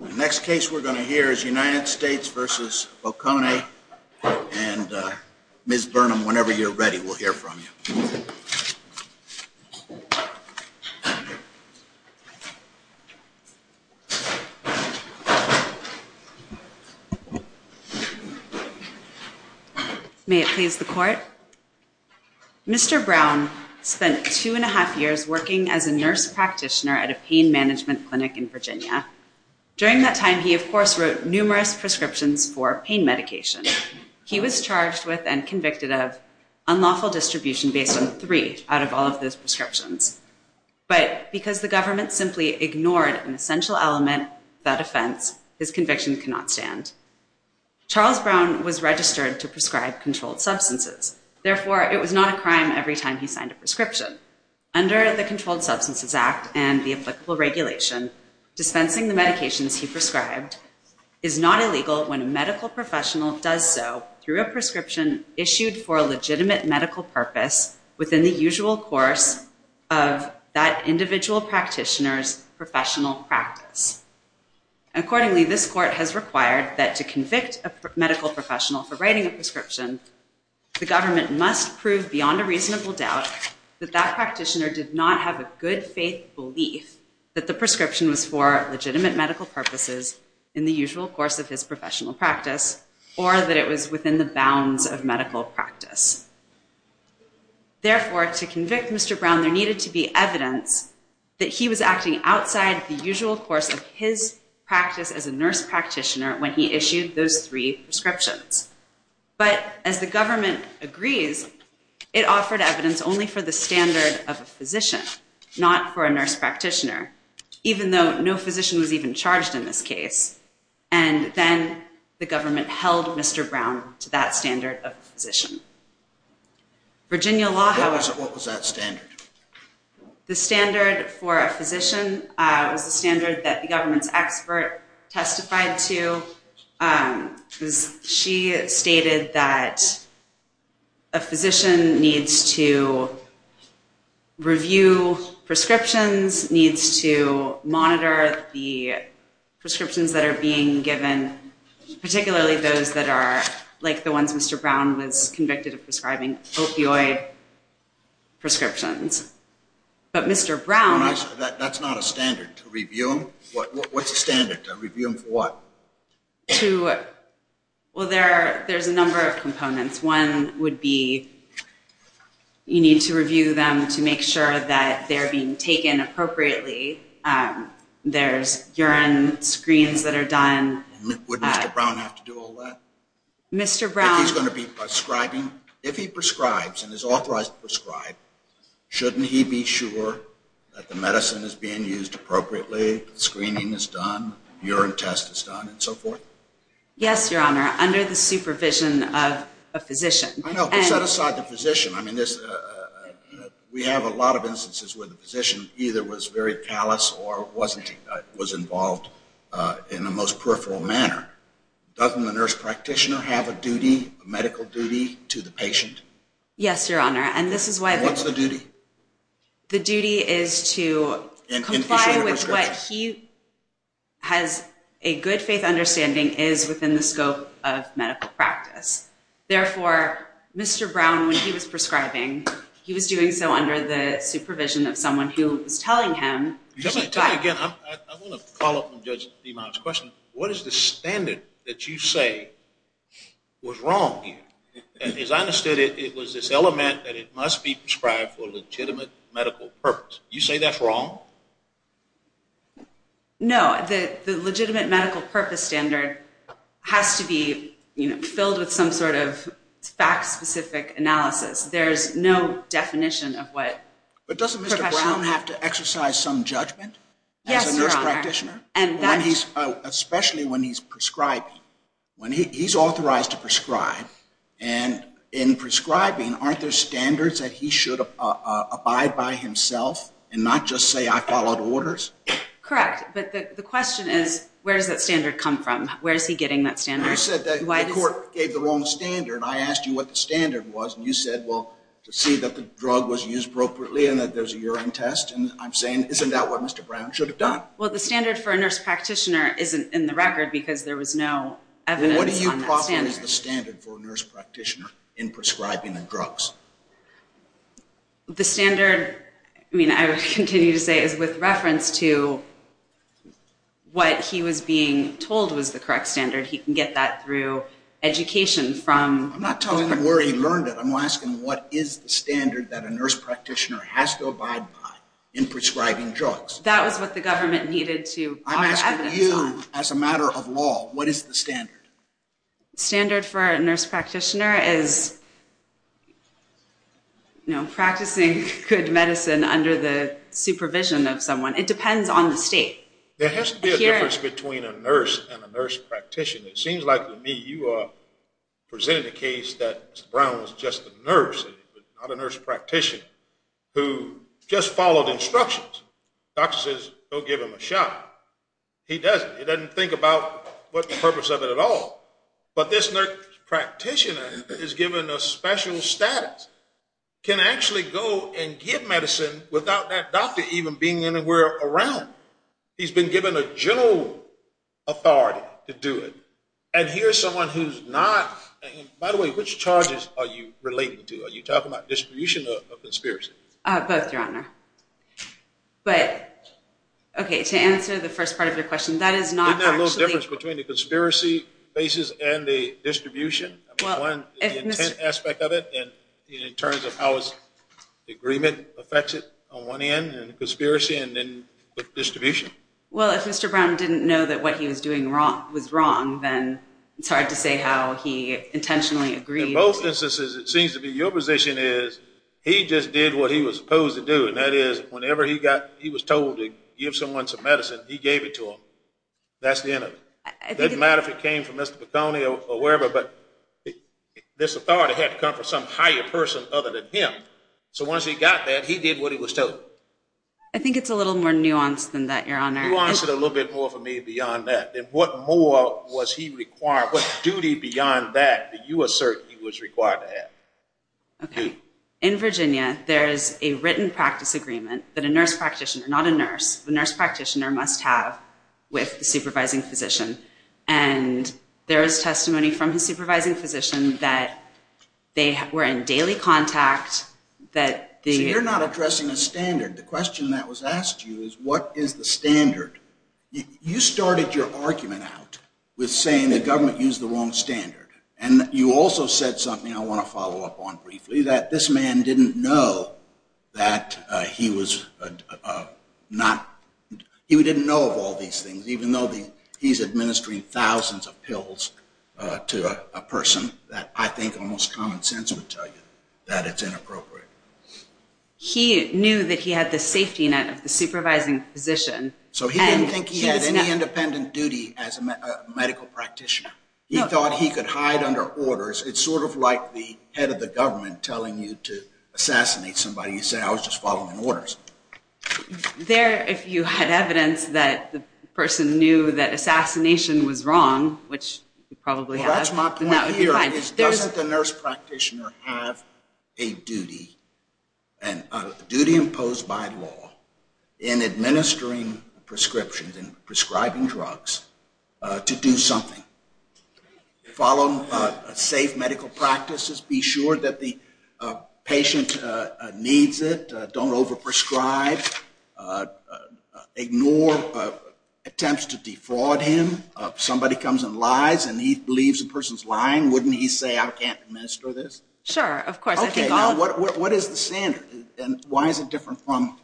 The next case we're going to hear is United States v. Boccone and Ms. Burnham, whenever you're ready we'll hear from you. May it please the court. Mr. Brown spent two and a half years working as a nurse practitioner at a pain management clinic in Virginia. During that time he of course wrote numerous prescriptions for pain medication. He was charged with and convicted of unlawful distribution based on three out of all of those prescriptions. But because the government simply ignored an essential element of that offense, his conviction cannot stand. Charles Brown was registered to prescribe controlled substances, therefore it was not a crime every time he signed a prescription. Under the Controlled Substances Act and the applicable regulation, dispensing the medications he prescribed is not illegal when a medical professional does so through a prescription issued for a legitimate medical purpose within the usual course of that individual practitioner's professional practice. Accordingly, this court has required that to convict a medical professional for writing a prescription, the government must prove beyond a reasonable doubt that that practitioner did not have a good faith belief that the prescription was for legitimate medical purposes in the usual course of his professional practice or that it was within the bounds of medical practice. Therefore, to convict Mr. Brown there needed to be evidence that he was acting outside the usual course of his practice as a nurse practitioner when he issued those three prescriptions. But as the government agrees, it offered evidence only for the standard of a physician, not for a nurse practitioner, even though no physician was even charged in this case. And then the government held Mr. Brown to that standard of a physician. Virginia law, however. What was that standard? The standard for a physician was the standard that the government's expert testified to. She stated that a physician needs to review prescriptions, needs to monitor the prescriptions that are being given, particularly those that are like the ones Mr. Brown was convicted of prescribing, opioid prescriptions. But Mr. Brown... That's not a standard to review them. What's the standard to review them for what? To... Well, there's a number of components. One would be you need to review them to make sure that they're being taken appropriately. There's urine screens that are done. Would Mr. Brown have to do all that? Mr. Brown... If he's going to be prescribing, if he prescribes and is authorized to prescribe, shouldn't he be sure that the medicine is being used appropriately, screening is done, urine test is done, and so forth? Yes, Your Honor, under the supervision of a physician. I know, but set aside the physician. I mean, we have a lot of instances where the physician either was very callous or wasn't, was involved in a most peripheral manner. Doesn't the nurse practitioner have a duty, a medical duty to the patient? Yes, Your Honor, and this is why... What's the duty? The duty is to comply with what he has a good faith understanding is within the scope of medical practice. Therefore, Mr. Brown, when he was prescribing, he was doing so under the supervision of someone who was telling him... Tell me again. I want to follow up on Judge Demont's question. What is the standard that you say was wrong here? As I understood it, it was this element that it must be prescribed for a legitimate medical purpose. You say that's wrong? No, the legitimate medical purpose standard has to be filled with some sort of fact-specific analysis. There's no definition of what... But doesn't Mr. Brown have to exercise some judgment as a nurse practitioner, especially when he's prescribing? When he's authorized to prescribe, and in prescribing, aren't there standards that he should abide by himself and not just say, I followed orders? Correct, but the question is, where does that standard come from? Where is he getting that standard? You said that the court gave the wrong standard. I asked you what the standard was, and you said, well, to see that the drug was used appropriately and that there's a urine test. And I'm saying, isn't that what Mr. Brown should have done? Well, the standard for a nurse practitioner isn't in the record because there was no evidence on that standard. What do you call the standard for a nurse practitioner in prescribing the drugs? The standard, I mean, I would continue to say is with reference to what he was being told was the correct standard. He can get that through education from... I'm not talking where he learned it. I'm asking what is the standard that a nurse practitioner has to abide by in prescribing drugs? That was what the government needed to offer evidence on. I'm asking you, as a matter of law, what is the standard? Standard for a nurse practitioner is practicing good medicine under the supervision of someone. It depends on the state. There has to be a difference between a nurse and a nurse practitioner. It seems like to me you are presenting a case that Mr. Brown was just a nurse and not a nurse practitioner who just followed instructions. The doctor says, go give him a shot. He doesn't. He doesn't think about the purpose of it at all. But this nurse practitioner is given a special status, can actually go and give medicine without that doctor even being anywhere around. He's been given a general authority to do it. And here's someone who's not... By the way, which charges are you relating to? Are you talking about distribution or conspiracy? Both, Your Honor. But, okay, to answer the first part of your question, that is not actually... Isn't there a little difference between the conspiracy basis and the distribution? One, the intent aspect of it, and in terms of how the agreement affects it on one end, and the conspiracy, and then the distribution. Well, if Mr. Brown didn't know that what he was doing was wrong, then it's hard to say how he intentionally agreed... In both instances, it seems to be your position is, he just did what he was supposed to do. And that is, whenever he was told to give someone some medicine, he gave it to them. That's the end of it. It doesn't matter if it came from Mr. Piconi or wherever, but this authority had to come from some higher person other than him. So once he got that, he did what he was told. I think it's a little more nuanced than that, Your Honor. Nuance it a little bit more for me beyond that. Then what more was he required? What duty beyond that did you assert he was required to have? Okay. In Virginia, there is a written practice agreement that a nurse practitioner... Not a nurse. The nurse practitioner must have with the supervising physician. And there is testimony from his supervising physician that they were in daily contact, that the... So you're not addressing a standard. The question that was asked to you is, what is the standard? You started your argument out with saying the government used the wrong standard. And you also said something I want to follow up on briefly, that this man didn't know that he was not... He didn't know of all these things, even though he's administering thousands of pills to a person that I think almost common sense would tell you that it's inappropriate. He knew that he had the safety net of the supervising physician. So he didn't think he had any independent duty as a medical practitioner? No. He thought he could hide under orders. It's sort of like the head of the government telling you to assassinate somebody. You say, I was just following orders. There, if you had evidence that the person knew that assassination was wrong, which you probably have, then that would be fine. Well, that's my point here, is doesn't the nurse practitioner have a duty, and a duty imposed by law in administering prescriptions and prescribing drugs to do something? Follow safe medical practices. Be sure that the patient needs it. Don't overprescribe. Ignore attempts to defraud him. If somebody comes and lies and he believes the person's lying, wouldn't he say, I can't administer this? Sure, of course. Okay, now what is the standard? And why is it different from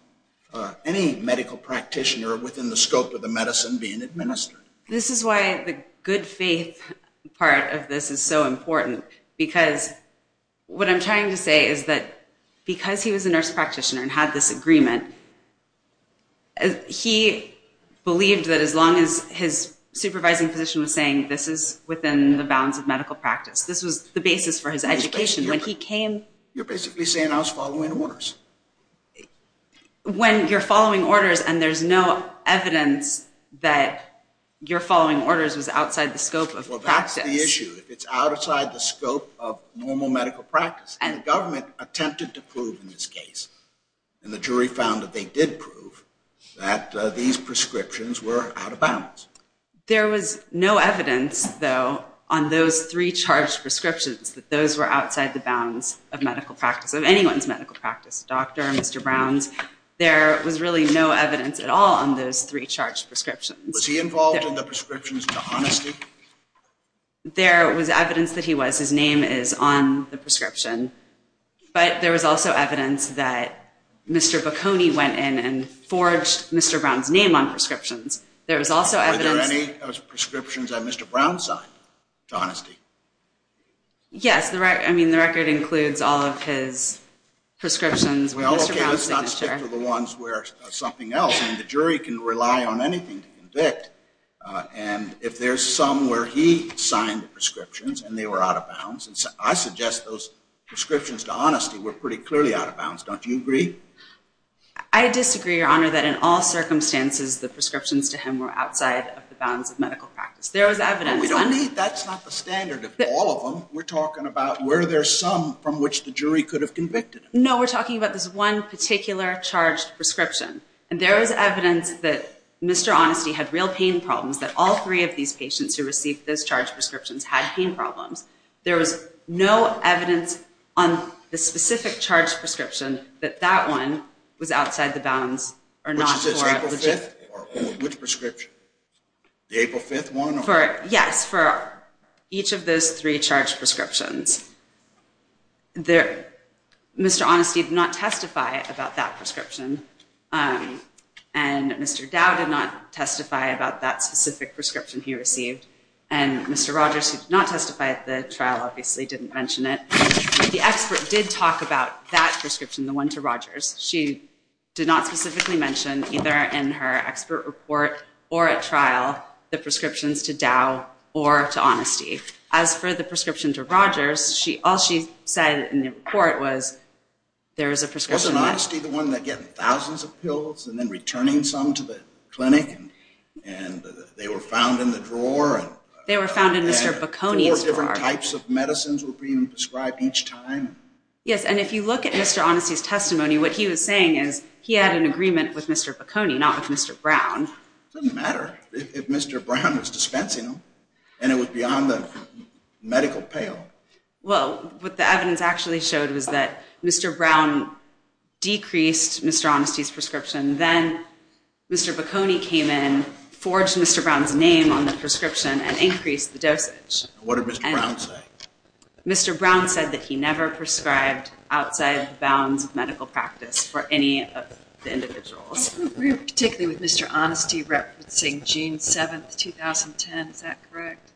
any medical practitioner within the scope of the medicine being administered? This is why the good faith part of this is so important. Because what I'm trying to say is that because he was a nurse practitioner and had this agreement, he believed that as long as his supervising physician was saying this is within the bounds of medical practice, this was the basis for his education. You're basically saying I was following orders. When you're following orders and there's no evidence that you're following orders was outside the scope of practice. Well, that's the issue. If it's outside the scope of normal medical practice. And the government attempted to prove in this case, and the jury found that they did prove, that these prescriptions were out of bounds. There was no evidence, though, on those three charged prescriptions that those were outside the bounds of medical practice, of anyone's medical practice, doctor, Mr. Brown's. There was really no evidence at all on those three charged prescriptions. Was he involved in the prescriptions to honesty? There was evidence that he was. His name is on the prescription. But there was also evidence that Mr. Bocconi went in and forged Mr. Brown's name on prescriptions. Were there any prescriptions that Mr. Brown signed to honesty? Yes. I mean, the record includes all of his prescriptions. Okay, let's not stick to the ones where something else. I mean, the jury can rely on anything to convict. And if there's some where he signed the prescriptions and they were out of bounds, I suggest those prescriptions to honesty were pretty clearly out of bounds. Don't you agree? I disagree, Your Honor, that in all circumstances the prescriptions to him were outside of the bounds of medical practice. There was evidence. That's not the standard of all of them. We're talking about where there's some from which the jury could have convicted him. No, we're talking about this one particular charged prescription. And there was evidence that Mr. Honesty had real pain problems, that all three of these patients who received those charged prescriptions had pain problems. There was no evidence on the specific charged prescription Which prescription? The April 5th one? Yes, for each of those three charged prescriptions. Mr. Honesty did not testify about that prescription. And Mr. Dow did not testify about that specific prescription he received. And Mr. Rogers, who did not testify at the trial, obviously didn't mention it. The expert did talk about that prescription, the one to Rogers. She did not specifically mention, either in her expert report or at trial, the prescriptions to Dow or to Honesty. As for the prescription to Rogers, all she said in the report was, there is a prescription left. Wasn't Honesty the one that got thousands of pills and then returning some to the clinic? And they were found in the drawer? They were found in Mr. Bocconi's drawer. Four different types of medicines were being prescribed each time? Yes, and if you look at Mr. Honesty's testimony, what he was saying is, he had an agreement with Mr. Bocconi, not with Mr. Brown. It doesn't matter if Mr. Brown was dispensing them. And it was beyond the medical pale. Well, what the evidence actually showed was that Mr. Brown decreased Mr. Honesty's prescription. Then Mr. Bocconi came in, forged Mr. Brown's name on the prescription, and increased the dosage. What did Mr. Brown say? Mr. Brown said that he never prescribed outside the bounds of medical practice for any of the individuals. I don't agree particularly with Mr. Honesty referencing June 7, 2010. Is that correct?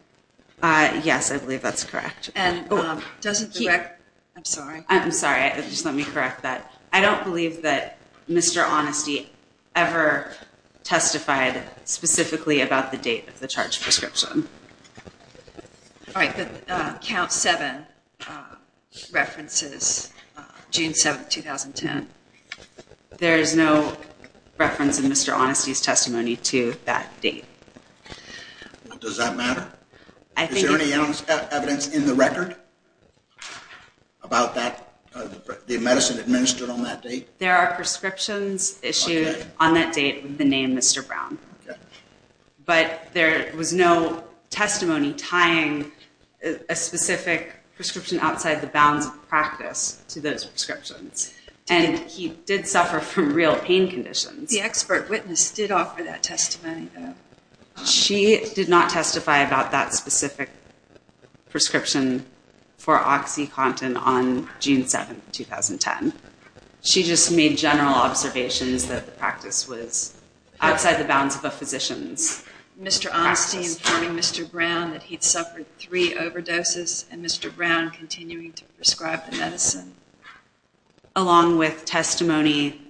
Yes, I believe that's correct. And doesn't the record... I'm sorry. I'm sorry. Just let me correct that. I don't believe that Mr. Honesty ever testified specifically about the date of the charge of prescription. All right, but Count 7 references June 7, 2010. There is no reference in Mr. Honesty's testimony to that date. Does that matter? Is there any evidence in the record about the medicine administered on that date? There are prescriptions issued on that date with the name Mr. Brown. But there was no testimony tying a specific prescription outside the bounds of practice to those prescriptions. And he did suffer from real pain conditions. The expert witness did offer that testimony, though. She did not testify about that specific prescription for OxyContin on June 7, 2010. She just made general observations that the practice was outside the bounds of a physician's practice. Mr. Honesty informed Mr. Brown that he'd suffered three overdoses and Mr. Brown continuing to prescribe the medicine. Along with testimony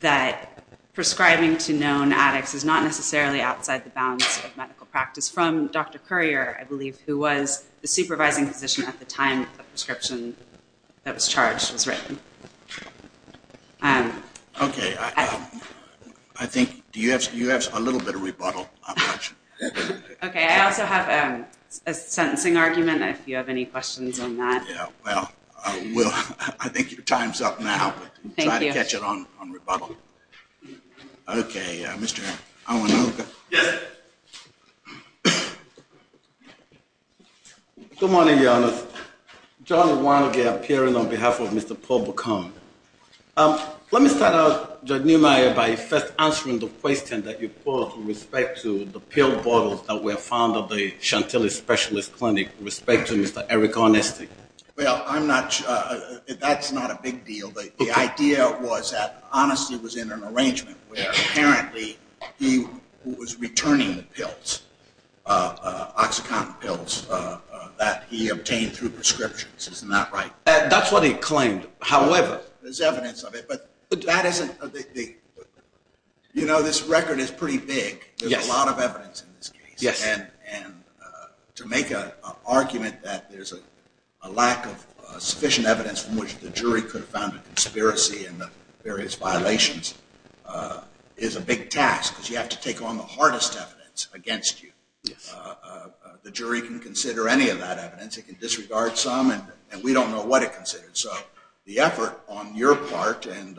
that prescribing to known addicts is not necessarily outside the bounds of medical practice from Dr. Currier, I believe, who was the supervising physician at the time the prescription that was charged was written. Okay, I think you have a little bit of rebuttal. Okay, I also have a sentencing argument if you have any questions on that. Yeah, well, I think your time's up now. Thank you. Try to catch it on rebuttal. Okay, Mr. Awanoka. Yes. Good morning, Your Honor. John Awanoka appearing on behalf of Mr. Paul Bacone. Let me start out, Judge Neumeier, by first answering the question that you posed with respect to the pill bottles that were found at the Chantilly Specialist Clinic with respect to Mr. Eric Arnesty. Well, I'm not sure. That's not a big deal. The idea was that Arnesty was in an arrangement where apparently he was returning pills, Oxycontin pills that he obtained through prescriptions. Isn't that right? That's what he claimed. However... There's evidence of it, but that isn't... You know, this record is pretty big. There's a lot of evidence in this case. And to make an argument that there's a lack of sufficient evidence from which the jury could have found a conspiracy in the various violations is a big task because you have to take on the hardest evidence against you. The jury can consider any of that evidence. It can disregard some, and we don't know what it considers. So the effort on your part and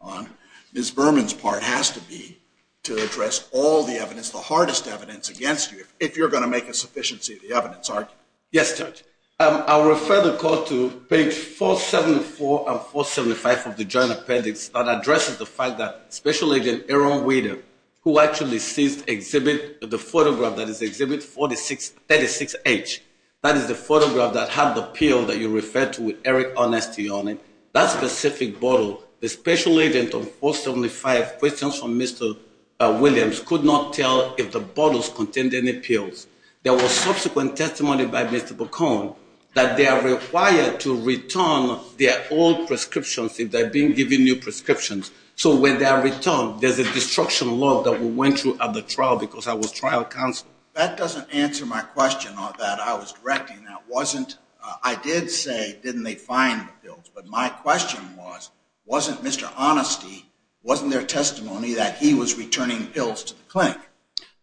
on Ms. Berman's part has to be to address all the evidence, the hardest evidence against you if you're going to make a sufficiency of the evidence argument. Yes, Judge. I'll refer the Court to page 474 and 475 of the Joint Appendix that addresses the fact that Special Agent Aaron Weider who actually sees the photograph that is Exhibit 36H that is the photograph that had the pill that you referred to with Eric Arnesty on it that specific bottle the Special Agent of 475, questions from Mr. Williams could not tell if the bottles contained any pills. There was subsequent testimony by Mr. Bacone that they are required to return their old prescriptions if they've been given new prescriptions. So when they are returned, there's a destruction law that we went through at the trial because I was trial counsel. That doesn't answer my question that I was directing. I did say, didn't they find the pills? But my question was, wasn't Mr. Arnesty, wasn't there testimony that he was returning pills to the clinic?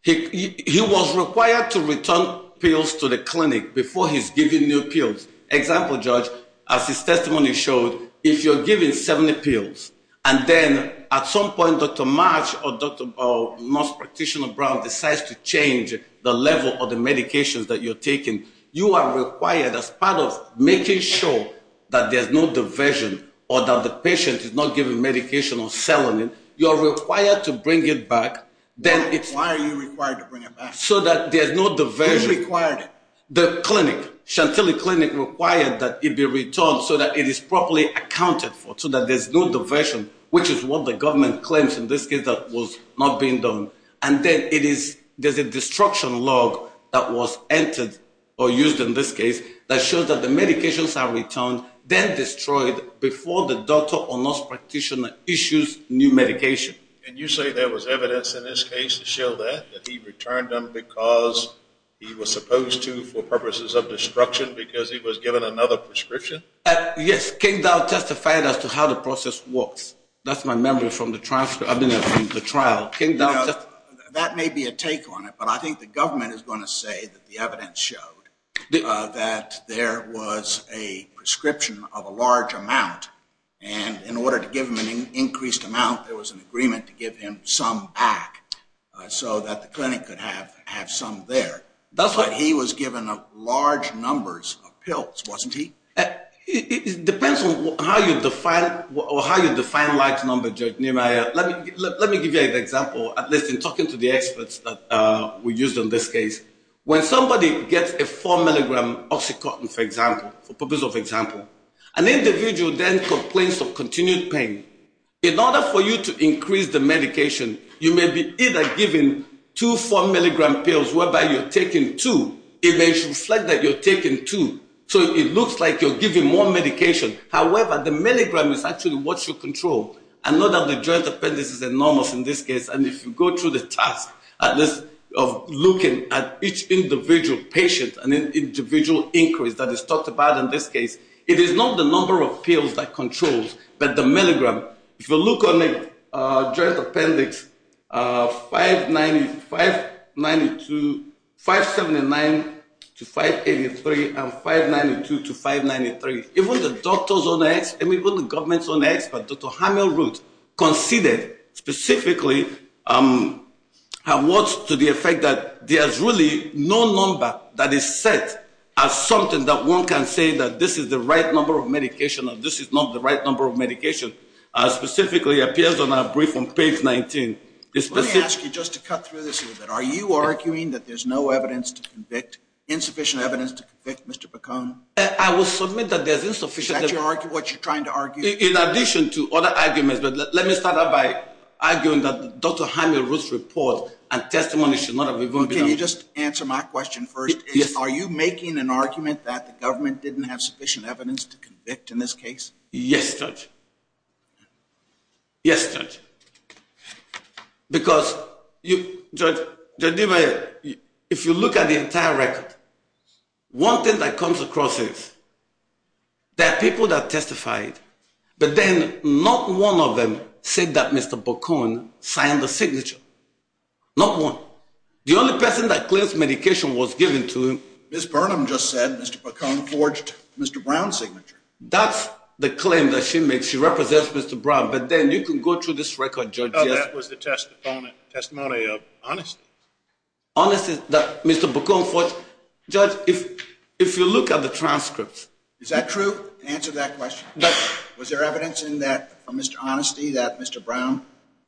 He was required to return pills to the clinic before he's given new pills. Example, Judge, as his testimony showed, if you're giving 70 pills and then at some point Dr. March or Dr. Bowe or Nurse Practitioner Brown decides to change the level of the medications that you're taking, you are required as part of making sure that there's no diversion or that the patient is not given medication or selling it. You're required to bring it back. Why are you required to bring it back? Who required it? The clinic, Chantilly Clinic required that it be returned so that it is properly accounted for so that there's no diversion which is what the government claims in this case that was not being done. And then there's a destruction law that was entered or used in this case that shows that the medications are returned then destroyed before the doctor or nurse practitioner issues new medication. And you say there was evidence in this case to show that, that he returned them because he was supposed to for purposes of destruction because he was given another prescription? Yes, Kingdall testified as to how the process works. That's my memory from the trial. You know, that may be a take on it but I think the government is going to say that the evidence showed that there was a prescription of a large amount and in order to give him an increased amount, there was an agreement to give him some back so that the clinic could have some there. That's why he was given large numbers of pills, wasn't he? It depends on how you define how you define large numbers, Judge Niemeyer. Let me give you an example talking to the experts that we used in this case. When somebody gets a 4 mg Oxycontin, for example, for purposes of example, an individual then complains of continued pain. In order for you to increase the medication, you may be either given two 4 mg pills whereby you're taking two it may reflect that you're taking two so it looks like you're giving more medication. However, the milligram is actually what you control and not that the joint appendix is enormous in this case and if you go through the task of looking at each individual patient and individual increase that is talked about in this case, it is not the number of pills that controls, but the milligram. If you look on the joint appendix 590 579 to 583 and 592 to 593 even the doctors on X even the governments on X, but Dr. Hamill wrote conceded specifically what's to the effect that there's really no number that is set as something that one can say that this is the right number of medication or this is not the right number of medication as specifically appears on our brief on page 19. Let me ask you just to cut through this a little bit. Are you arguing that there's no evidence to convict insufficient evidence to convict Mr. Bacon? I will submit that there's insufficient evidence. Is that what you're trying to argue? In addition to other arguments, but let me start out by arguing that Dr. Hamill wrote a report and testimony should not have been voted on. Can you just answer my question first? Yes. Are you making an argument that the government didn't have sufficient evidence to convict in this case? Yes, judge. Yes, judge. Because you, judge, if you look at the entire record one thing that comes across is that people that testified but then not one of them said that Mr. Bacon signed the signature. Not one. The only person that claims medication was given to him Ms. Burnham just said Mr. Bacon forged Mr. Brown's signature. That's the claim that she makes. She represents Mr. Brown, but then you can go through this record, judge. Oh, that was the testimony of honesty. Honesty that Mr. Bacon forged. Judge, if you look at the transcripts Is that true? Answer that question. Was there evidence in that for Mr. Honesty that Mr. Brown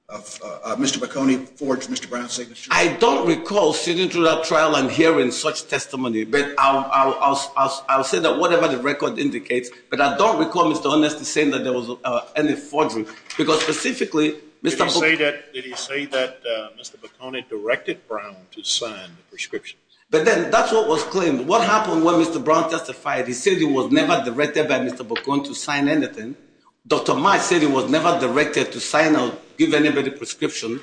Mr. Bacon forged Mr. Brown's signature? I don't recall sitting through that trial and hearing such testimony but I'll say that whatever the record indicates, but I don't recall Mr. Honesty saying that there was any forgery because specifically Did he say that Mr. Bacon directed Brown to sign the prescription? But then that's what was claimed. What happened when Mr. Brown testified? He said he was never directed by Mr. Bacon to sign anything. Dr. Marsh said he was never directed to sign or give anybody prescription.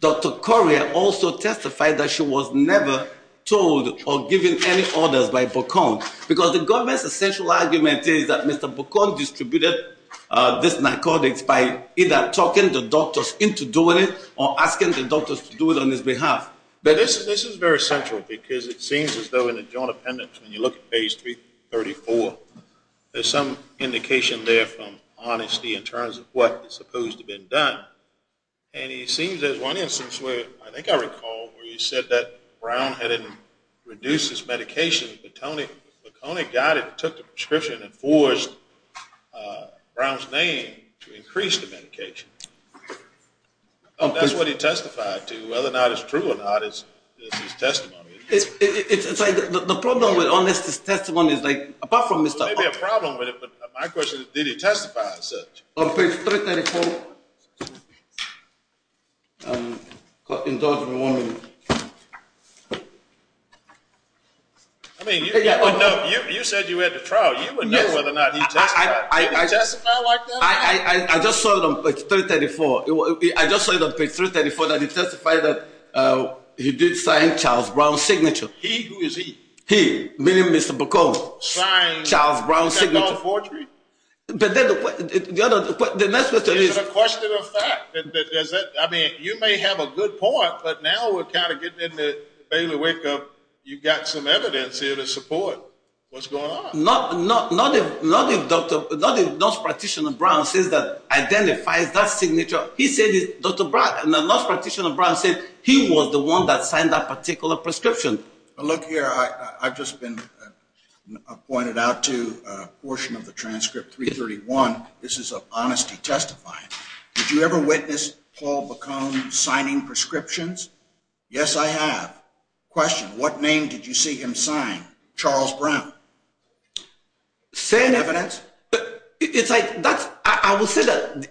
Dr. Correa also testified that she was never told or given any orders by Bacon because the government's essential argument is that Mr. Bacon distributed this narcotics by either talking the doctors into doing it or asking the doctors to do it on his behalf. But this is very central because it seems as though in the Joint Appendix when you look at page 334 there's some indication there from Honesty in terms of what is supposed to have been done and it seems there's one instance where I think I recall where he said that Brown had reduced his medication but Mr. Bacon took the prescription and forged Brown's name to increase the medication. That's what he testified to, whether or not it's true or not is his testimony. The problem with Honesty's testimony is like, apart from Mr. Bacon My question is, did he testify as such? On page 334 You said you were at the trial You would know whether or not he testified Did he testify like that? I just saw it on page 334 I just saw it on page 334 that he testified that he did sign Charles Brown's signature He? Who is he? He, meaning Mr. Bacon signed Charles Brown's signature But then the next question is Is it a question of fact? I mean, you may have a good point but now we're kind of getting into the Baylor wake up You've got some evidence here to support What's going on? Not if Dr. Brown identifies that signature Dr. Brown said he was the one that signed that particular prescription Look here, I've just been pointed out to a portion of the transcript This is of Honesty testifying Did you ever witness Paul Bacon signing prescriptions? Yes, I have Question, what name did you see him sign? Charles Brown Same evidence I will say that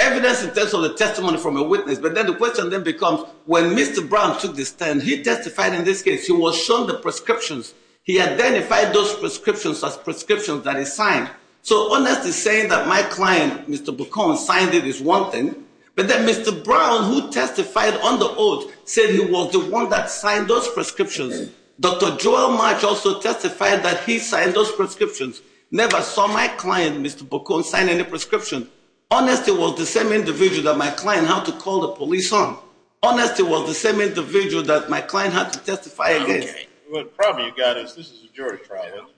evidence in terms of the testimony from a witness but then the question then becomes when Mr. Brown took this turn he testified in this case he was shown the prescriptions he identified those prescriptions as prescriptions that he signed so Honesty saying that my client Mr. Bacon signed it is one thing but then Mr. Brown who testified on the oath said he was the one that signed those prescriptions Dr. Joel March also testified that he signed those prescriptions Never saw my client Mr. Bacon sign any prescription Honesty was the same individual that my client had to call the police on Honesty was the same individual that my client had to testify against The problem you've got is this is a jury trial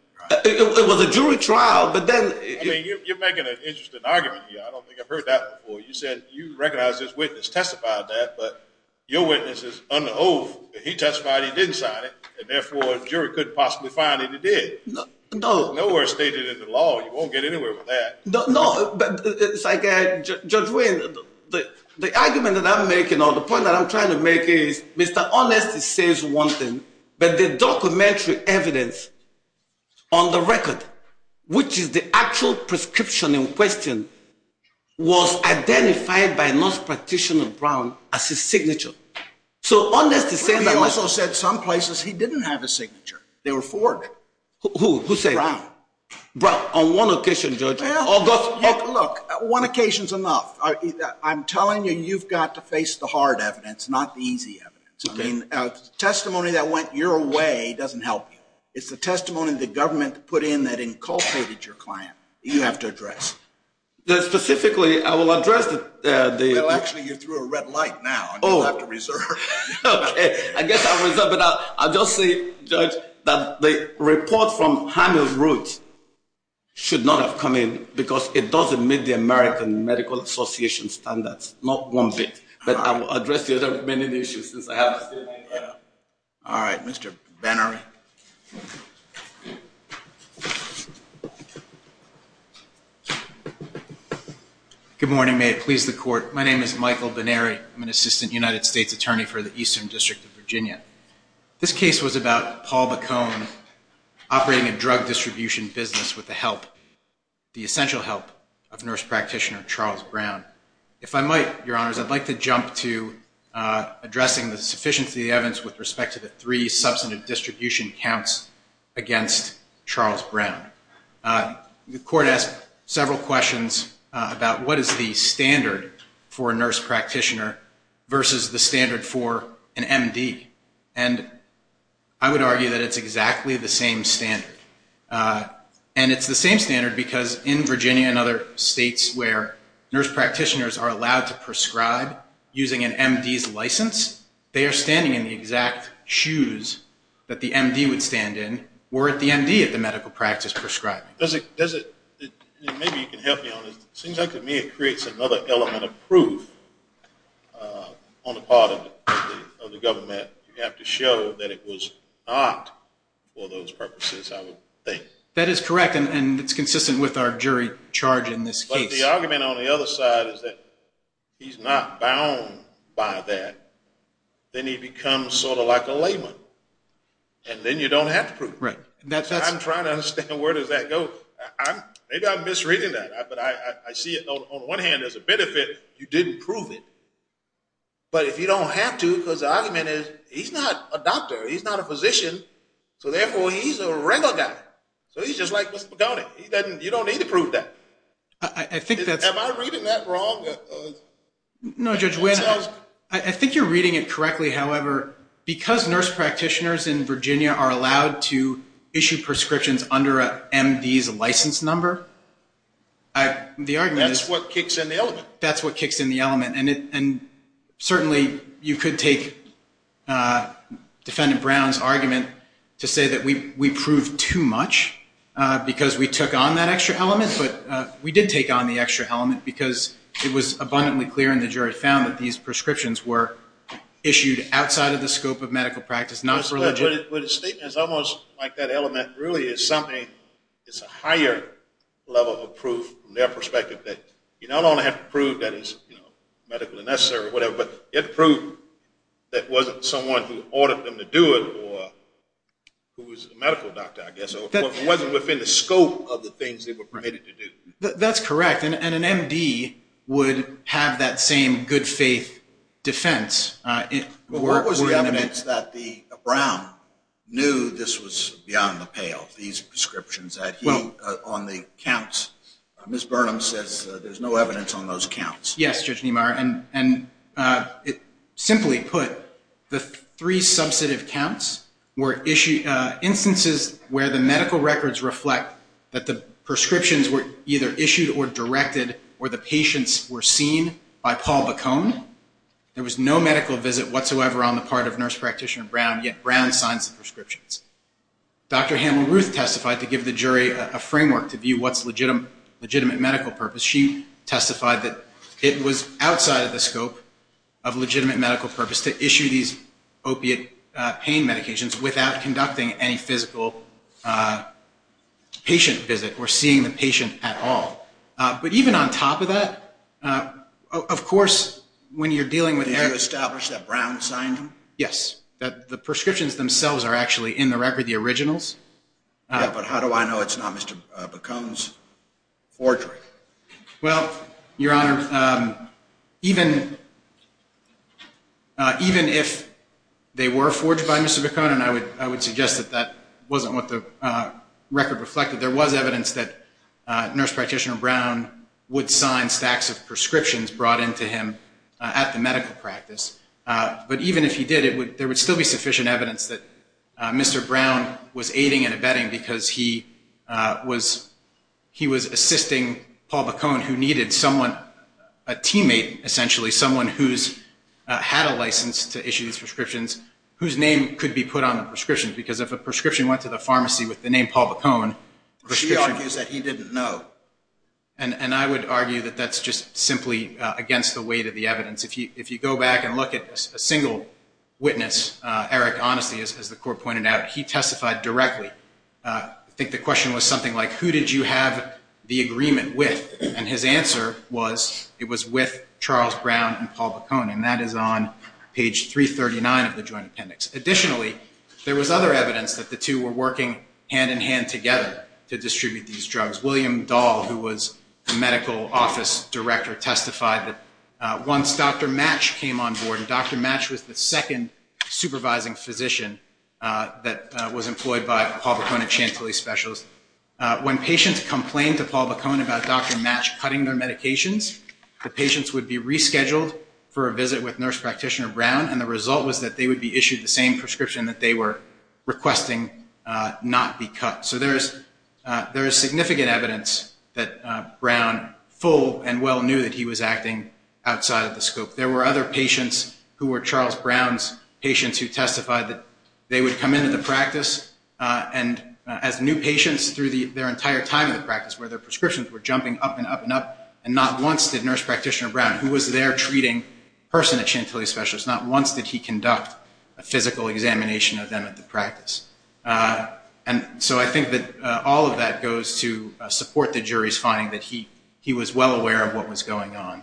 It was a jury trial but then You're making an interesting argument I don't think I've heard that before You said you recognize this witness testified that but your witness is on the oath He testified he didn't sign it and therefore the jury couldn't possibly find it No You won't get anywhere with that Judge Wayne The argument that I'm making or the point that I'm trying to make is Mr. Honesty says one thing but the documentary evidence on the record which is the actual prescription in question was identified by Nurse Practitioner Brown as his signature So Honesty said He also said some places he didn't have his signature There were four of them Who said that? Brown On one occasion judge Look, one occasion is enough I'm telling you you've got to face the hard evidence not the easy evidence The testimony that went your way doesn't help you It's the testimony the government put in that inculcated your client You have to address Specifically I will address Well actually you threw a red light now and you'll have to reserve Ok, I guess I'll reserve I'll just say judge that the report from Hamill Roots should not have come in because it doesn't meet the American Medical Association standards Not one bit But I will address the other issues Alright Mr. Benner Good morning May it please the court My name is Michael Benneri I'm an assistant United States Attorney for the Eastern District of Virginia This case was about Paul Bacone operating a drug distribution business with the help the essential help of Nurse Practitioner Charles Brown If I might your honors I'd like to jump to addressing the sufficiency of the evidence with respect to the three substantive distribution counts against Charles Brown The court asked several questions about what is the standard for a Nurse Practitioner versus the standard for an MD I would argue that it's exactly the same standard And it's the same standard because in Virginia and other states where Nurse Practitioners are allowed to prescribe using an MD's license, they are standing in the shoes that the MD would stand in or at the MD at the medical practice prescribing Maybe you can help me on this It seems like to me it creates another element of proof on the part of the government that you have to show that it was not for those purposes I would think That is correct and it's consistent with our jury charge in this case But the argument on the other side is that he's not bound by that Then he becomes sort of like a layman And then you don't have to prove I'm trying to understand where does that go Maybe I'm misreading that But I see it on one hand as a benefit You didn't prove it But if you don't have to Because the argument is he's not a doctor He's not a physician So therefore he's a regular guy So he's just like Mr. Pagone You don't need to prove that Am I reading that wrong? No Judge Wynn I think you're reading it correctly However, because nurse practitioners in Virginia are allowed to issue prescriptions under an MD's license number That's what kicks in the element And certainly you could take Defendant Brown's argument to say that we proved too much because we took on that extra element but we did take on the extra element because it was abundantly clear and the jury found that these prescriptions were issued outside of the scope of medical practice But the statement is almost like that element really is something It's a higher level of proof from their perspective that you not only have to prove that it's medically necessary or whatever but you have to prove that it wasn't someone who ordered them to do it or who was a medical doctor I guess It wasn't within the scope of the things they were permitted to do That's correct and an MD would have that same good faith defense What was the evidence that Brown knew this was beyond the pale, these prescriptions on the counts Ms. Burnham says there's no evidence on those counts Yes Judge Niemeyer Simply put, the three substantive counts were instances where the medical records reflect that the prescriptions were either issued or directed or the patients were seen by Paul Bacone There was no medical visit whatsoever on the part of Nurse Practitioner Brown yet Brown signs the prescriptions Dr. Hamel-Ruth testified to give the jury a framework to view what's legitimate medical purpose. She testified that it was outside of the scope of legitimate medical purpose to issue these opiate pain medications without conducting any physical patient visit or seeing the patient at all. But even on top of that of course when you're dealing with Did you establish that Brown signed them? Yes. The prescriptions themselves are actually in the record, the originals But how do I know it's not Mr. Bacone's forgery? Well, Your Honor even even if they were forged Mr. Bacone and I would suggest that wasn't what the record reflected. There was evidence that Nurse Practitioner Brown would sign stacks of prescriptions brought in to him at the medical practice But even if he did there would still be sufficient evidence that Mr. Brown was aiding and abetting because he was he was assisting Paul Bacone who needed someone a teammate essentially, someone who's had a license to issue these prescriptions whose name could be put on the prescription because if a prescription went to the pharmacy with the name Paul Bacone She argues that he didn't know And I would argue that that's just simply against the weight of the evidence. If you go back and look at a single witness Eric Honesty as the court pointed out, he testified directly I think the question was something like who did you have the agreement with and his answer was it was with Charles Brown and Paul Page 339 of the Joint Appendix Additionally, there was other evidence that the two were working hand in hand together to distribute these drugs William Dahl who was the medical office director testified that once Dr. Match came on board and Dr. Match was the second supervising physician that was employed by Paul Bacone at Chantilly Specials when patients complained to Paul Bacone about Dr. Match cutting their medications the patients would be rescheduled for a visit with Nurse Practitioner Brown and the result was that they would be issued the same prescription that they were requesting not be cut So there is significant evidence that Brown full and well knew that he was acting outside of the scope. There were other patients who were Charles Brown's patients who testified that they would come into the practice as new patients through their entire time in the practice where their prescriptions were jumping up and up and up who was their treating person at Chantilly Specials. Not once did he conduct a physical examination of them at the practice So I think that all of that goes to support the jury's finding that he was well aware of what was going on.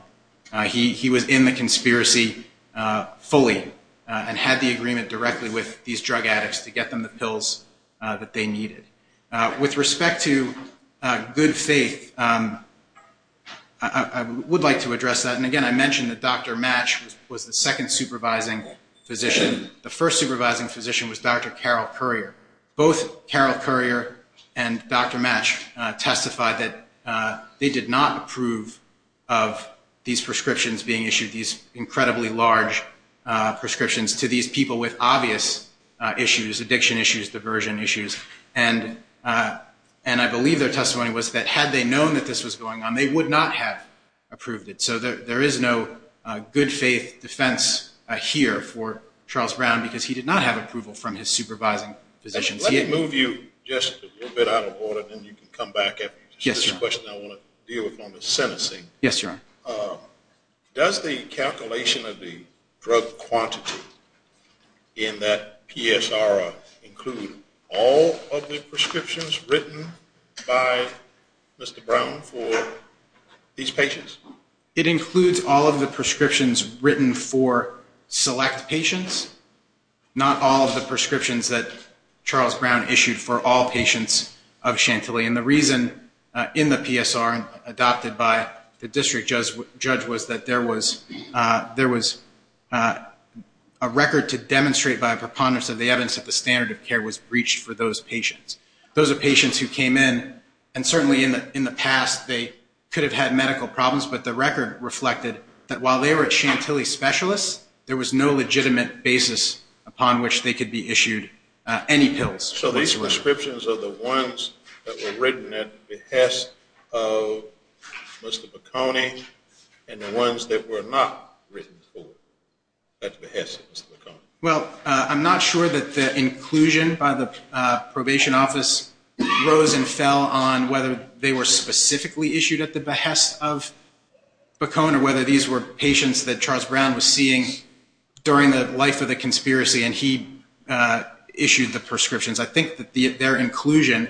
He was in the conspiracy fully and had the agreement directly with these drug addicts to get them the pills that they needed With respect to good faith I would like to address that and again I mentioned that Dr. Match was the second supervising physician. The first supervising physician was Dr. Carol Currier Both Carol Currier and Dr. Match testified that they did not approve of these prescriptions being issued, these incredibly large prescriptions to these people with obvious issues, addiction issues, diversion issues and I believe their testimony was that had they known that this was going on they would not have approved it. So there is no good faith defense here for Charles Brown because he did not have approval from his supervising physicians Let me move you just a little bit out of order and then you can come back This is a question I want to deal with on the sentencing Yes your honor Does the calculation of the drug quantity in that PSR include all of the prescriptions written by Mr. Brown for these patients? It includes all of the prescriptions written for select patients, not all of the prescriptions that Charles Brown issued for all patients of Chantilly and the reason in the PSR adopted by the district judge was that there was a record to demonstrate by a preponderance of the evidence that the standard of care was breached for those patients Those are patients who came in and certainly in the past they could have had medical problems but the record reflected that while they were at Chantilly specialists there was no legitimate basis upon which they could be issued any pills So these prescriptions are the ones that were written at the behest of Mr. Baccone and the ones that were not written for at the behest of Mr. Baccone Well I'm not sure that the inclusion by the probation office rose and fell on whether they were specifically issued at the behest of Baccone or whether these were patients that Charles Brown was seeing during the life of the conspiracy and he issued the prescriptions. I think that their inclusion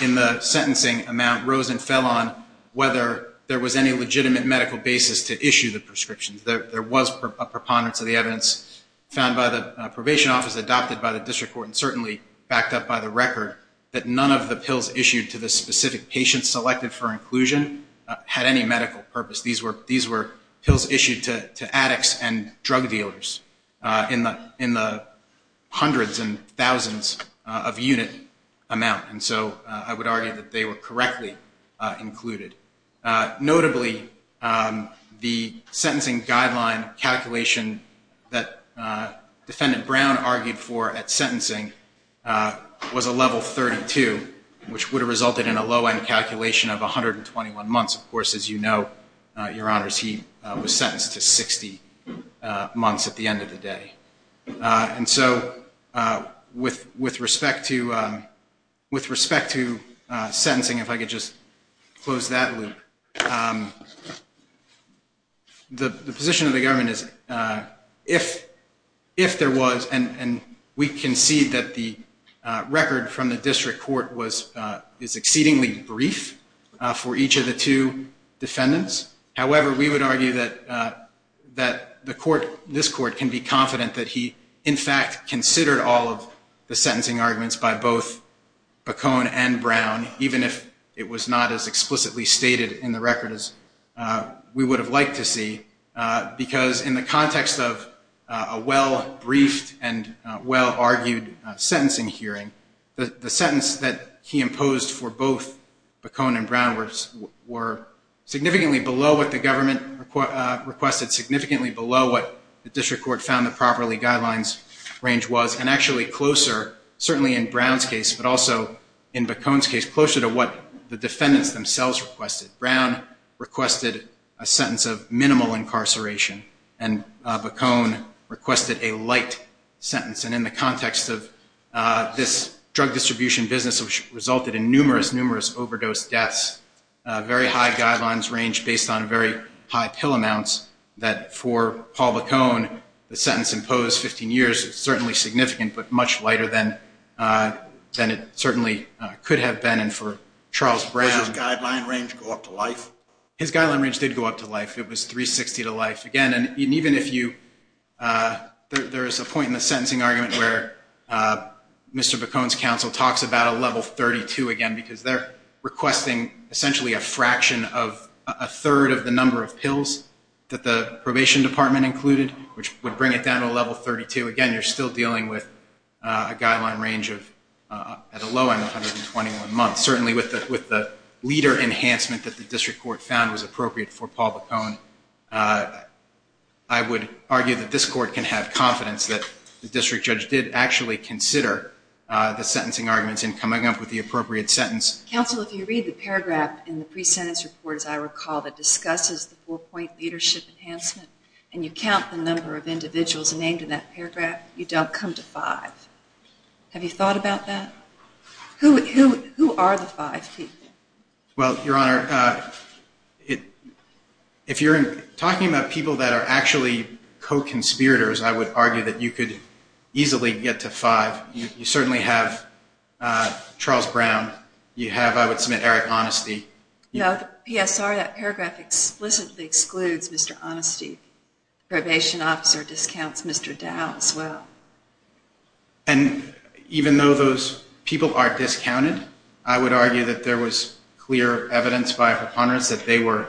in the sentencing amount rose and fell on whether there was any legitimate medical basis to issue the prescriptions There was a preponderance of the evidence found by the probation office adopted by the district court and certainly backed up by the record that none of the pills issued to the specific patients selected for inclusion had any medical purpose. These were pills issued to addicts and drug dealers in the hundreds and thousands of unit amount and so I would argue that they were correctly included Notably the sentencing guideline calculation that we're looking for at sentencing was a level 32 which would have resulted in a low end calculation of 121 months of course as you know your honors he was sentenced to 60 months at the end of the day and so with respect to with respect to sentencing if I could just close that loop the position of the government is that if there was and we can see that the record from the district court was exceedingly brief for each of the two defendants however we would argue that that the court can be confident that he in fact considered all of the sentencing arguments by both Bacone and Brown even if it was not as explicitly stated in the record as we would have liked to see because in the context of a well briefed and well argued sentencing hearing the sentence that he imposed for both Bacone and Brown were significantly below what the government requested, significantly below what the district court found the properly guidelines range was and actually closer certainly in Brown's case but also in Bacone's case closer to what the defendants themselves requested Brown requested a sentence of minimal incarceration and Bacone requested a light sentence and in the context of this drug distribution business which resulted in numerous overdose deaths very high guidelines range based on very high pill amounts that for Paul Bacone the sentence imposed 15 years certainly significant but much lighter than it certainly could have been and for Charles Brown his guideline range did go up to life it was 360 to life again and even if you there is a point in the sentencing argument where Mr. Bacone's counsel talks about a level 32 again because they're requesting essentially a fraction of a third of the number of pills that the probation department included which would bring it down to a level 32 again you're still dealing with a guideline range of at a low end of 121 months certainly with the leader enhancement that the district court found was appropriate for Paul Bacone I would argue that this court can have confidence that the district judge did actually consider the sentencing arguments in coming up with the appropriate sentence. Counsel if you read the paragraph in the pre-sentence report as I recall that discusses the four point leadership enhancement and you count the number of individuals named in that paragraph you don't come to five have you thought about that? Who are the five people? Well your honor if you're talking about people that are actually co-conspirators I would argue that you could easily get to five you certainly have Charles Brown you have I would submit Eric Honesty. No the PSR that paragraph explicitly excludes Mr. Honesty probation officer discounts Mr. Dow as well and even though those people are discounted I would argue that there was clear evidence by her partners that they were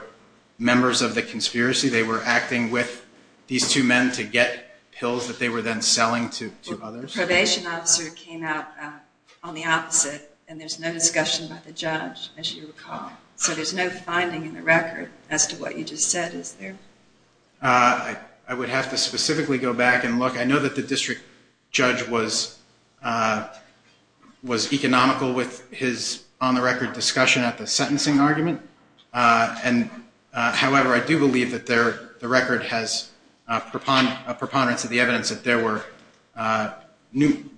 members of the conspiracy they were acting with these two men to get pills that they were then selling to others probation officer came out on the opposite and there's no discussion by the judge as you recall so there's no finding in the record as to what you just said is there I would have to specifically go back and look I know that the district judge was was economical with his on the record discussion at the sentencing argument and however I do believe that there the record has a preponderance of the evidence that there were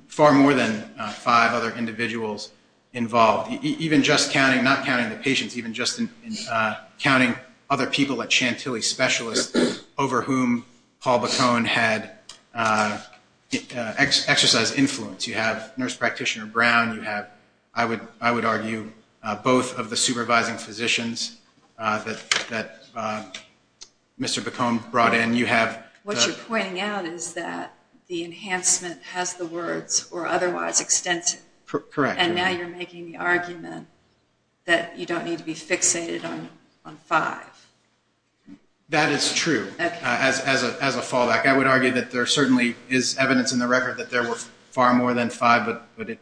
far more than five other individuals involved even just counting not counting the patients even just counting other people at Chantilly specialists over whom Paul Bacone had exercise influence you have nurse practitioner brown you have I would I would argue both of the supervising physicians that Mr. Bacone brought in you have what you're pointing out is that the enhancement has the words or otherwise extensive correct and now you're making the argument that you don't need to be fixated on on five that is true as a fallback I would argue that there certainly is evidence in the record that there was far more than five but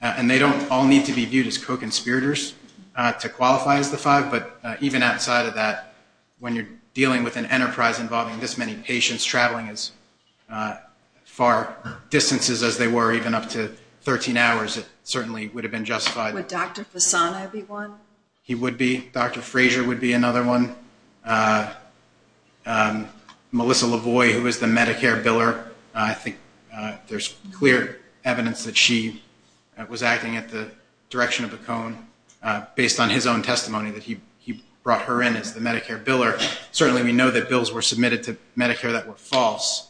and they don't all need to be viewed as conspirators to qualify as the five but even outside of that when you're dealing with an enterprise involving this many patients traveling as far distances as they were even up to 13 hours it certainly would have been justified Dr. Frazier would be another one Melissa Lavoie who is the Medicare Biller I think there's clear evidence that she was acting at the direction of Bacone based on his own testimony that he brought her in as the Medicare Biller certainly we know that bills were submitted to Medicare that were false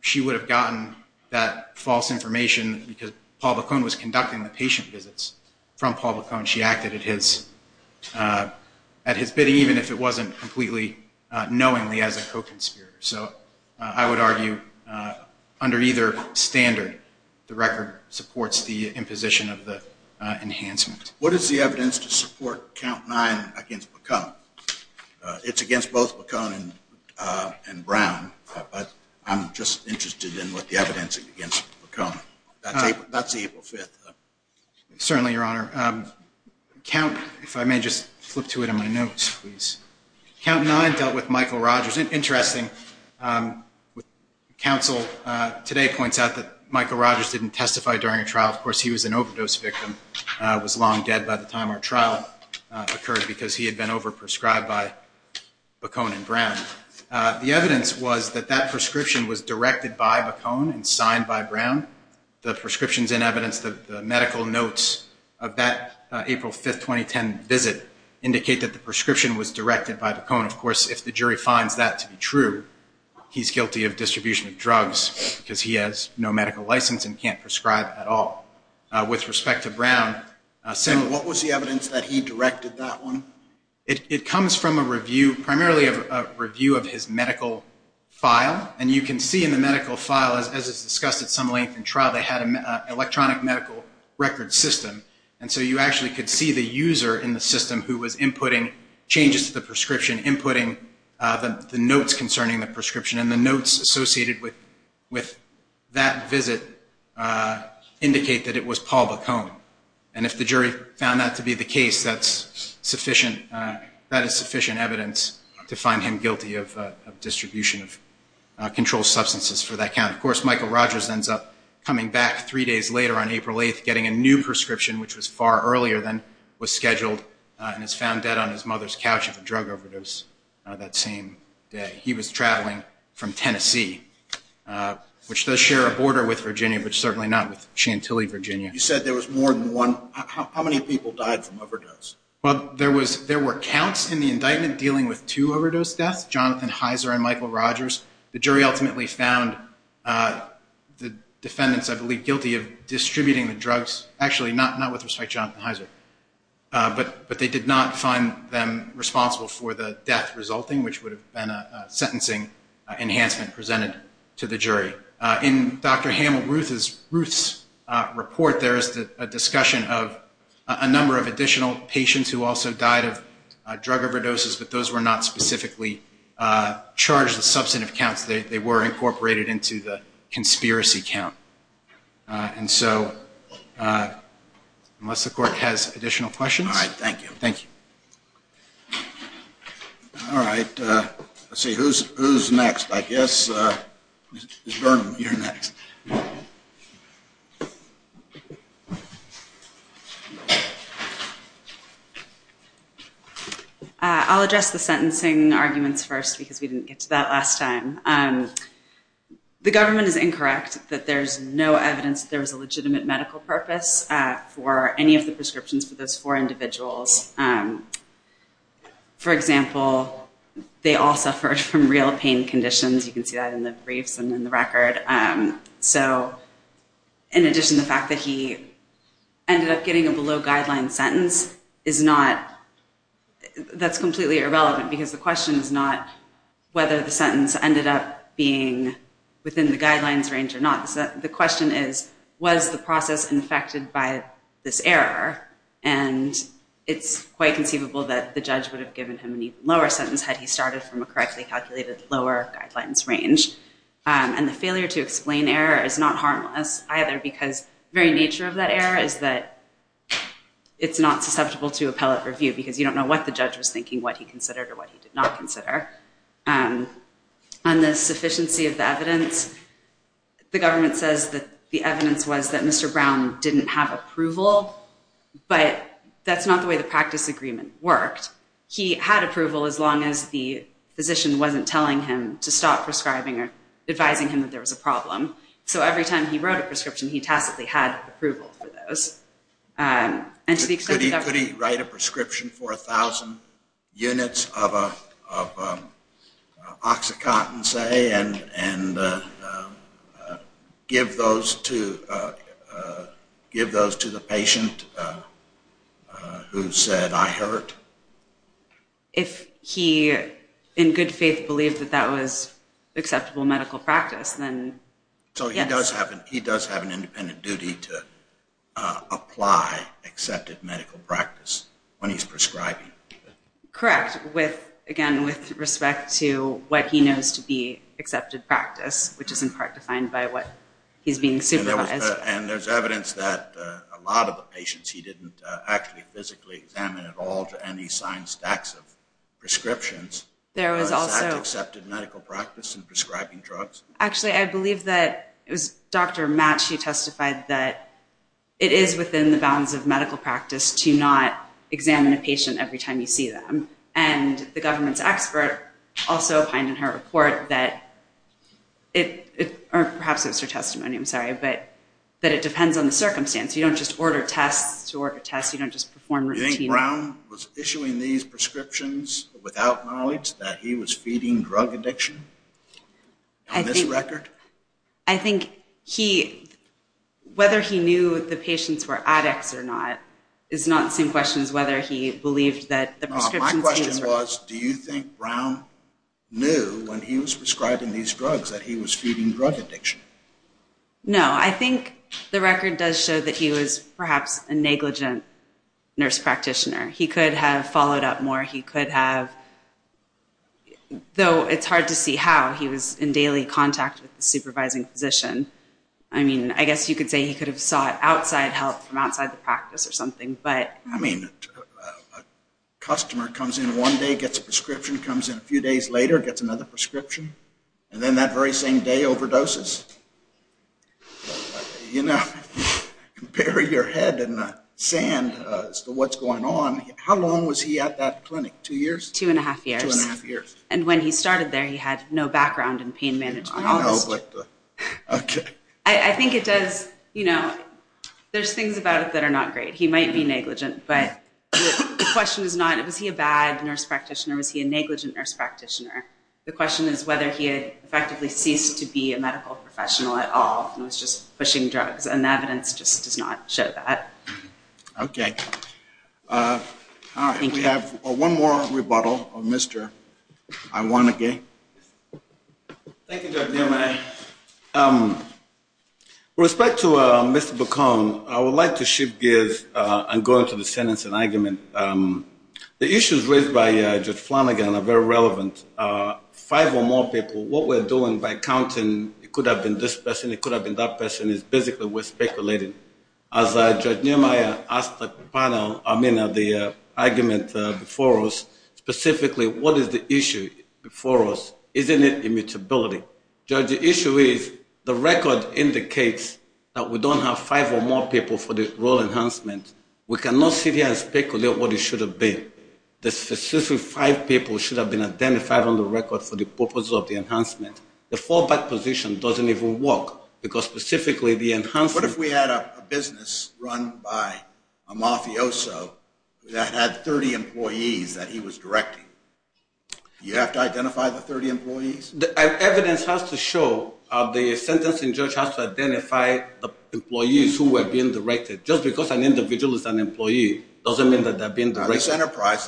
she would have gotten that false information because Paul Bacone was conducting the patient visits from public she acted at his at his bidding even if it wasn't completely knowingly as a co-conspirator so I would argue under either standard the record supports the imposition of the enhancement what is the evidence to support count nine against Bacone it's against both Bacone and Brown but I'm just interested in what the evidence against Bacone that's April 5th certainly your honor if I may just flip to it on my notes count nine dealt with Michael Rogers interesting counsel today points out that Michael Rogers didn't testify during a trial of course he was an overdose victim was long dead by the time our trial occurred because he had been over prescribed by Bacone and Brown the evidence was that that prescription was directed by Bacone and signed by Brown the prescriptions and evidence the medical notes of that April 5th 2010 visit indicate that the prescription was directed by Bacone of course if the jury finds that to be true he's guilty of distribution of drugs because he has no medical license and can't prescribe at all with respect to Brown what was the evidence that he directed that one it comes from a review primarily a review of his medical file and you can see in the medical file as it's discussed at some length in trial they had an electronic medical record system and so you actually could see the user in the system who was inputting changes to the prescription inputting the notes concerning the prescription and the notes associated with that visit indicate that it was Paul Bacone and if the jury found that to be the case that's sufficient that is sufficient evidence to find him guilty of distribution of controlled substances for that count of course Michael Rogers ends up coming back three days later on April 8th getting a new prescription which was far earlier than was scheduled and is found dead on his mother's couch of a drug overdose that same day he was traveling from Tennessee which does share a border with Virginia but certainly not with Chantilly Virginia you said there was more than one how many people died from overdose well there was there were counts in the indictment dealing with two overdose deaths Jonathan Heiser and Michael Rogers the jury ultimately found defendants I believe guilty of distributing the drugs actually not with respect to Jonathan Heiser but they did not find them responsible for the death resulting which would have been a sentencing enhancement presented to the jury in Dr. Hamill-Ruth's report there is a discussion of a number of additional patients who also died of drug overdoses but those were not specifically charged with substantive counts they were incorporated into the conspiracy count and so unless the court has additional questions thank you all right let's see who's next I guess you're next I'll address the sentencing arguments first because we didn't get to that last time the government is incorrect that there's no evidence there was a legitimate medical purpose for any of the prescriptions for those four individuals for example they all suffered from real pain conditions you can see that in the briefs and in the record so in addition to the fact that he ended up getting a below guidelines sentence is not that's completely irrelevant because the question is not whether the sentence ended up being within the guidelines range or not the question is was the process infected by this error and it's quite conceivable that the judge would have given him an even lower sentence had he started from a correctly calculated lower guidelines range and the failure to explain error is not harmless either because very nature of that error is that it's not susceptible to appellate review because you don't know what the judge was thinking what he considered or what he did not consider and the sufficiency of the evidence the government says that the evidence was that Mr. Brown didn't have approval but that's not the way the practice agreement worked he had approval as long as the physician wasn't telling him to stop prescribing or advising him that there was a problem so every time he wrote a prescription he tacitly had approval for those could he write a prescription for a thousand units of oxycontin say and give those to give those to the patient who said I hurt if he in good faith believed that that was acceptable medical practice then so he does have an independent duty to apply accepted medical practice when he's prescribing correct with again with respect to what he knows to be accepted practice which is in part defined by what he's being supervised and there's evidence that a lot of the patients he didn't actually physically examine at all to any assigned stacks of prescriptions there was also medical practice and prescribing drugs actually I believe that it was dr. Matt she testified that it is within the bounds of medical practice to not examine a patient every time you see them and the government's expert also find in her report that it perhaps it's her testimony I'm sorry but that it depends on the circumstance you don't just order tests to order tests you don't just perform brown was issuing these prescriptions without knowledge that he was feeding drug addiction record I think he whether he knew the patients were addicts or not it's not the same question as whether he believed that the was do you think brown knew when he was prescribing these drugs that he was feeding drug addiction no I think the record does show that he was perhaps a negligent nurse practitioner he could have followed up more he could have though it's hard to see how he was in daily contact with the supervising physician I mean I guess you could say he could have sought outside help from outside the practice or something but I mean customer comes in one day gets a prescription comes in a few days later gets another prescription and then that very same day overdoses you know compare your head and sand as to what's going on how long was he at that clinic two years two and a half years and when he started there he had no background in pain management okay I think it does you know there's things about it that are not great he might be negligent but the question is not it was he a bad nurse practitioner was he a negligent nurse practitioner the question is whether he had effectively ceased to be a medical professional at all and was just pushing drugs and the evidence just does not show that okay alright we have one more rebuttal of Mr. Iwanagi thank you Dr. Nehemiah with respect to Mr. Bacone I would like to shift gears and go into the sentence and argument the issues raised by Judge Flanagan are very relevant five or more people what we're doing by counting it could have been this person it could have been that person is basically we're speculating as Judge Nehemiah asked the panel I mean the argument before us specifically what is the issue before us isn't it immutability Judge the issue is the record indicates that we don't have five or more people for the role enhancement we cannot sit here and speculate what it should have been the specific five people should have been identified on the record for the purpose of the enhancement the fallback position doesn't even work because specifically the enhancement what if we had a business run by a mafioso that had 30 employees that he was directing you have to identify the 30 employees evidence has to show the sentencing judge has to identify the employees who were being directed just because an individual is an employee doesn't mean that they're being directed this enterprise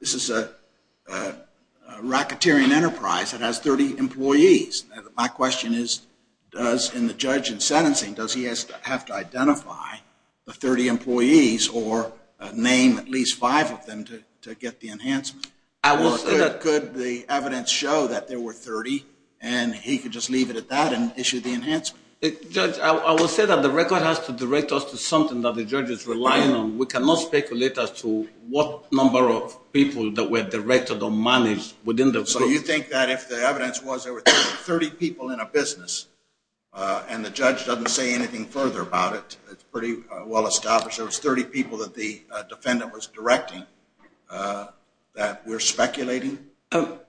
this is a racketeering enterprise that has 30 employees my question is does the judge in sentencing does he have to identify the 30 employees or name at least five of them to get the enhancement could the evidence show that there were 30 and he could just leave it at that and issue the enhancement I will say that the record has to direct us to something that the judge is relying on we cannot speculate as to what number of people that were directed or managed within the group so you think that if the evidence was there were 30 people in a business and the judge doesn't say anything further about it, it's pretty well established there was 30 people that the defendant was directing that we're speculating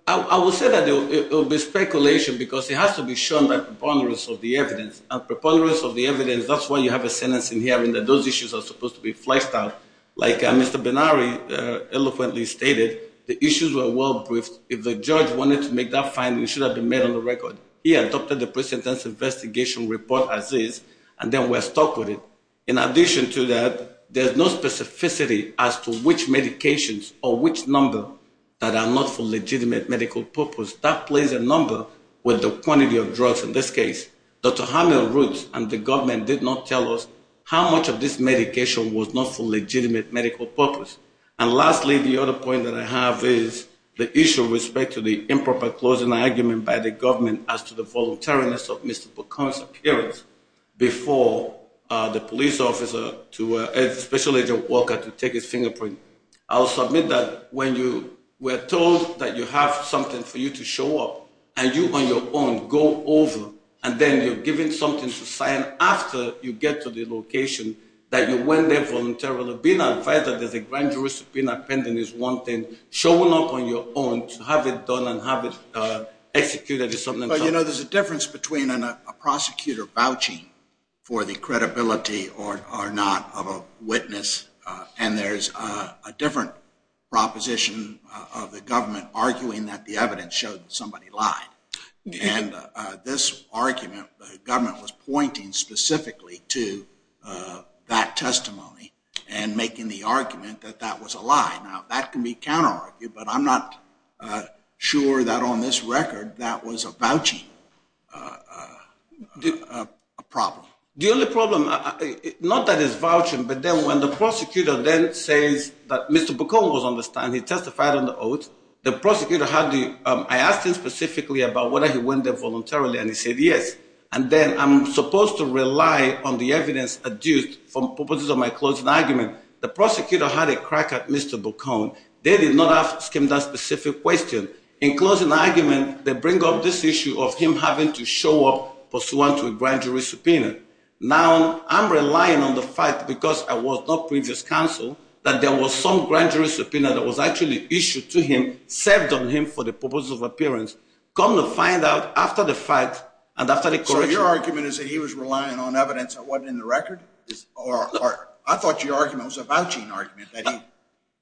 I will say that it will be speculation because it has to be shown by preponderance of the evidence and preponderance of the evidence that's why you have a sentencing hearing that those issues are supposed to be fleshed out like Mr. Benari eloquently stated the issues were well briefed if the judge wanted to make that finding it should have been made on the record he adopted the presentence investigation report as is and then we're stuck with it in addition to that there's no specificity as to which medications or which number that are not for legitimate medical purpose that plays a number with the quantity of drugs in this case Dr. Hamil Roots and the government did not tell us how much of this medication was not for legitimate medical purpose and lastly the other point that I have is the issue with respect to the improper closing argument by the government as to the voluntariness of Mr. McCormick's appearance before the police officer to Special Agent Walker to take his fingerprint I'll submit that when you were told that you have something for you to show up and you on your own go over and then you're given something to sign after you get to the location that you went there voluntarily being advised that there's a grand jurisdiction pending is one thing showing up on your own to have it done and have it executed is something else Well you know there's a difference between a prosecutor vouching for the credibility or not of a witness and there's a different proposition of the government arguing that the evidence showed that somebody lied and this argument the government was pointing specifically to that testimony and making the argument that that was a lie. Now that can be counter argued but I'm not sure that on this record that was a vouching problem The only problem, not that it's vouching but then when the prosecutor then says that Mr. McCormick was on this court, the prosecutor had the I asked him specifically about whether he went there voluntarily and he said yes and then I'm supposed to rely on the evidence adduced for purposes of my closing argument. The prosecutor had a crack at Mr. McCormick They did not ask him that specific question In closing argument they bring up this issue of him having to show up pursuant to a grand jury subpoena. Now I'm relying on the fact because I was not previous counsel that there was some grand jury subpoena that was actually issued to him, served on him for the purpose of appearance. Come to find out after the fact and after the So your argument is that he was relying on evidence that wasn't in the record? I thought your argument was a vouching argument that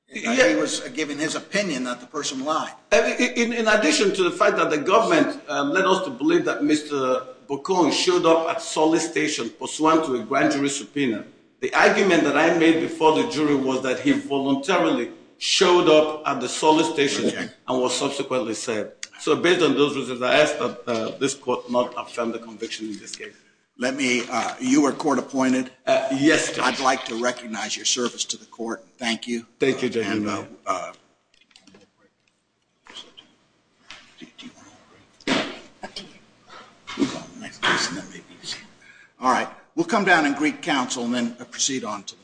he was giving his opinion that the person lied In addition to the fact that the government led us to believe that Mr. Boccon showed up at solicitation pursuant to a grand jury subpoena. The argument that I made before the jury was that he voluntarily showed up at the solicitation and was subsequently said. So based on those reasons I ask that this court not affirm the conviction in this case. You were court appointed? Yes. I'd like to recognize your service to the court. Thank you. Thank you. Alright, we'll come down and greet counsel and then proceed on to the next case.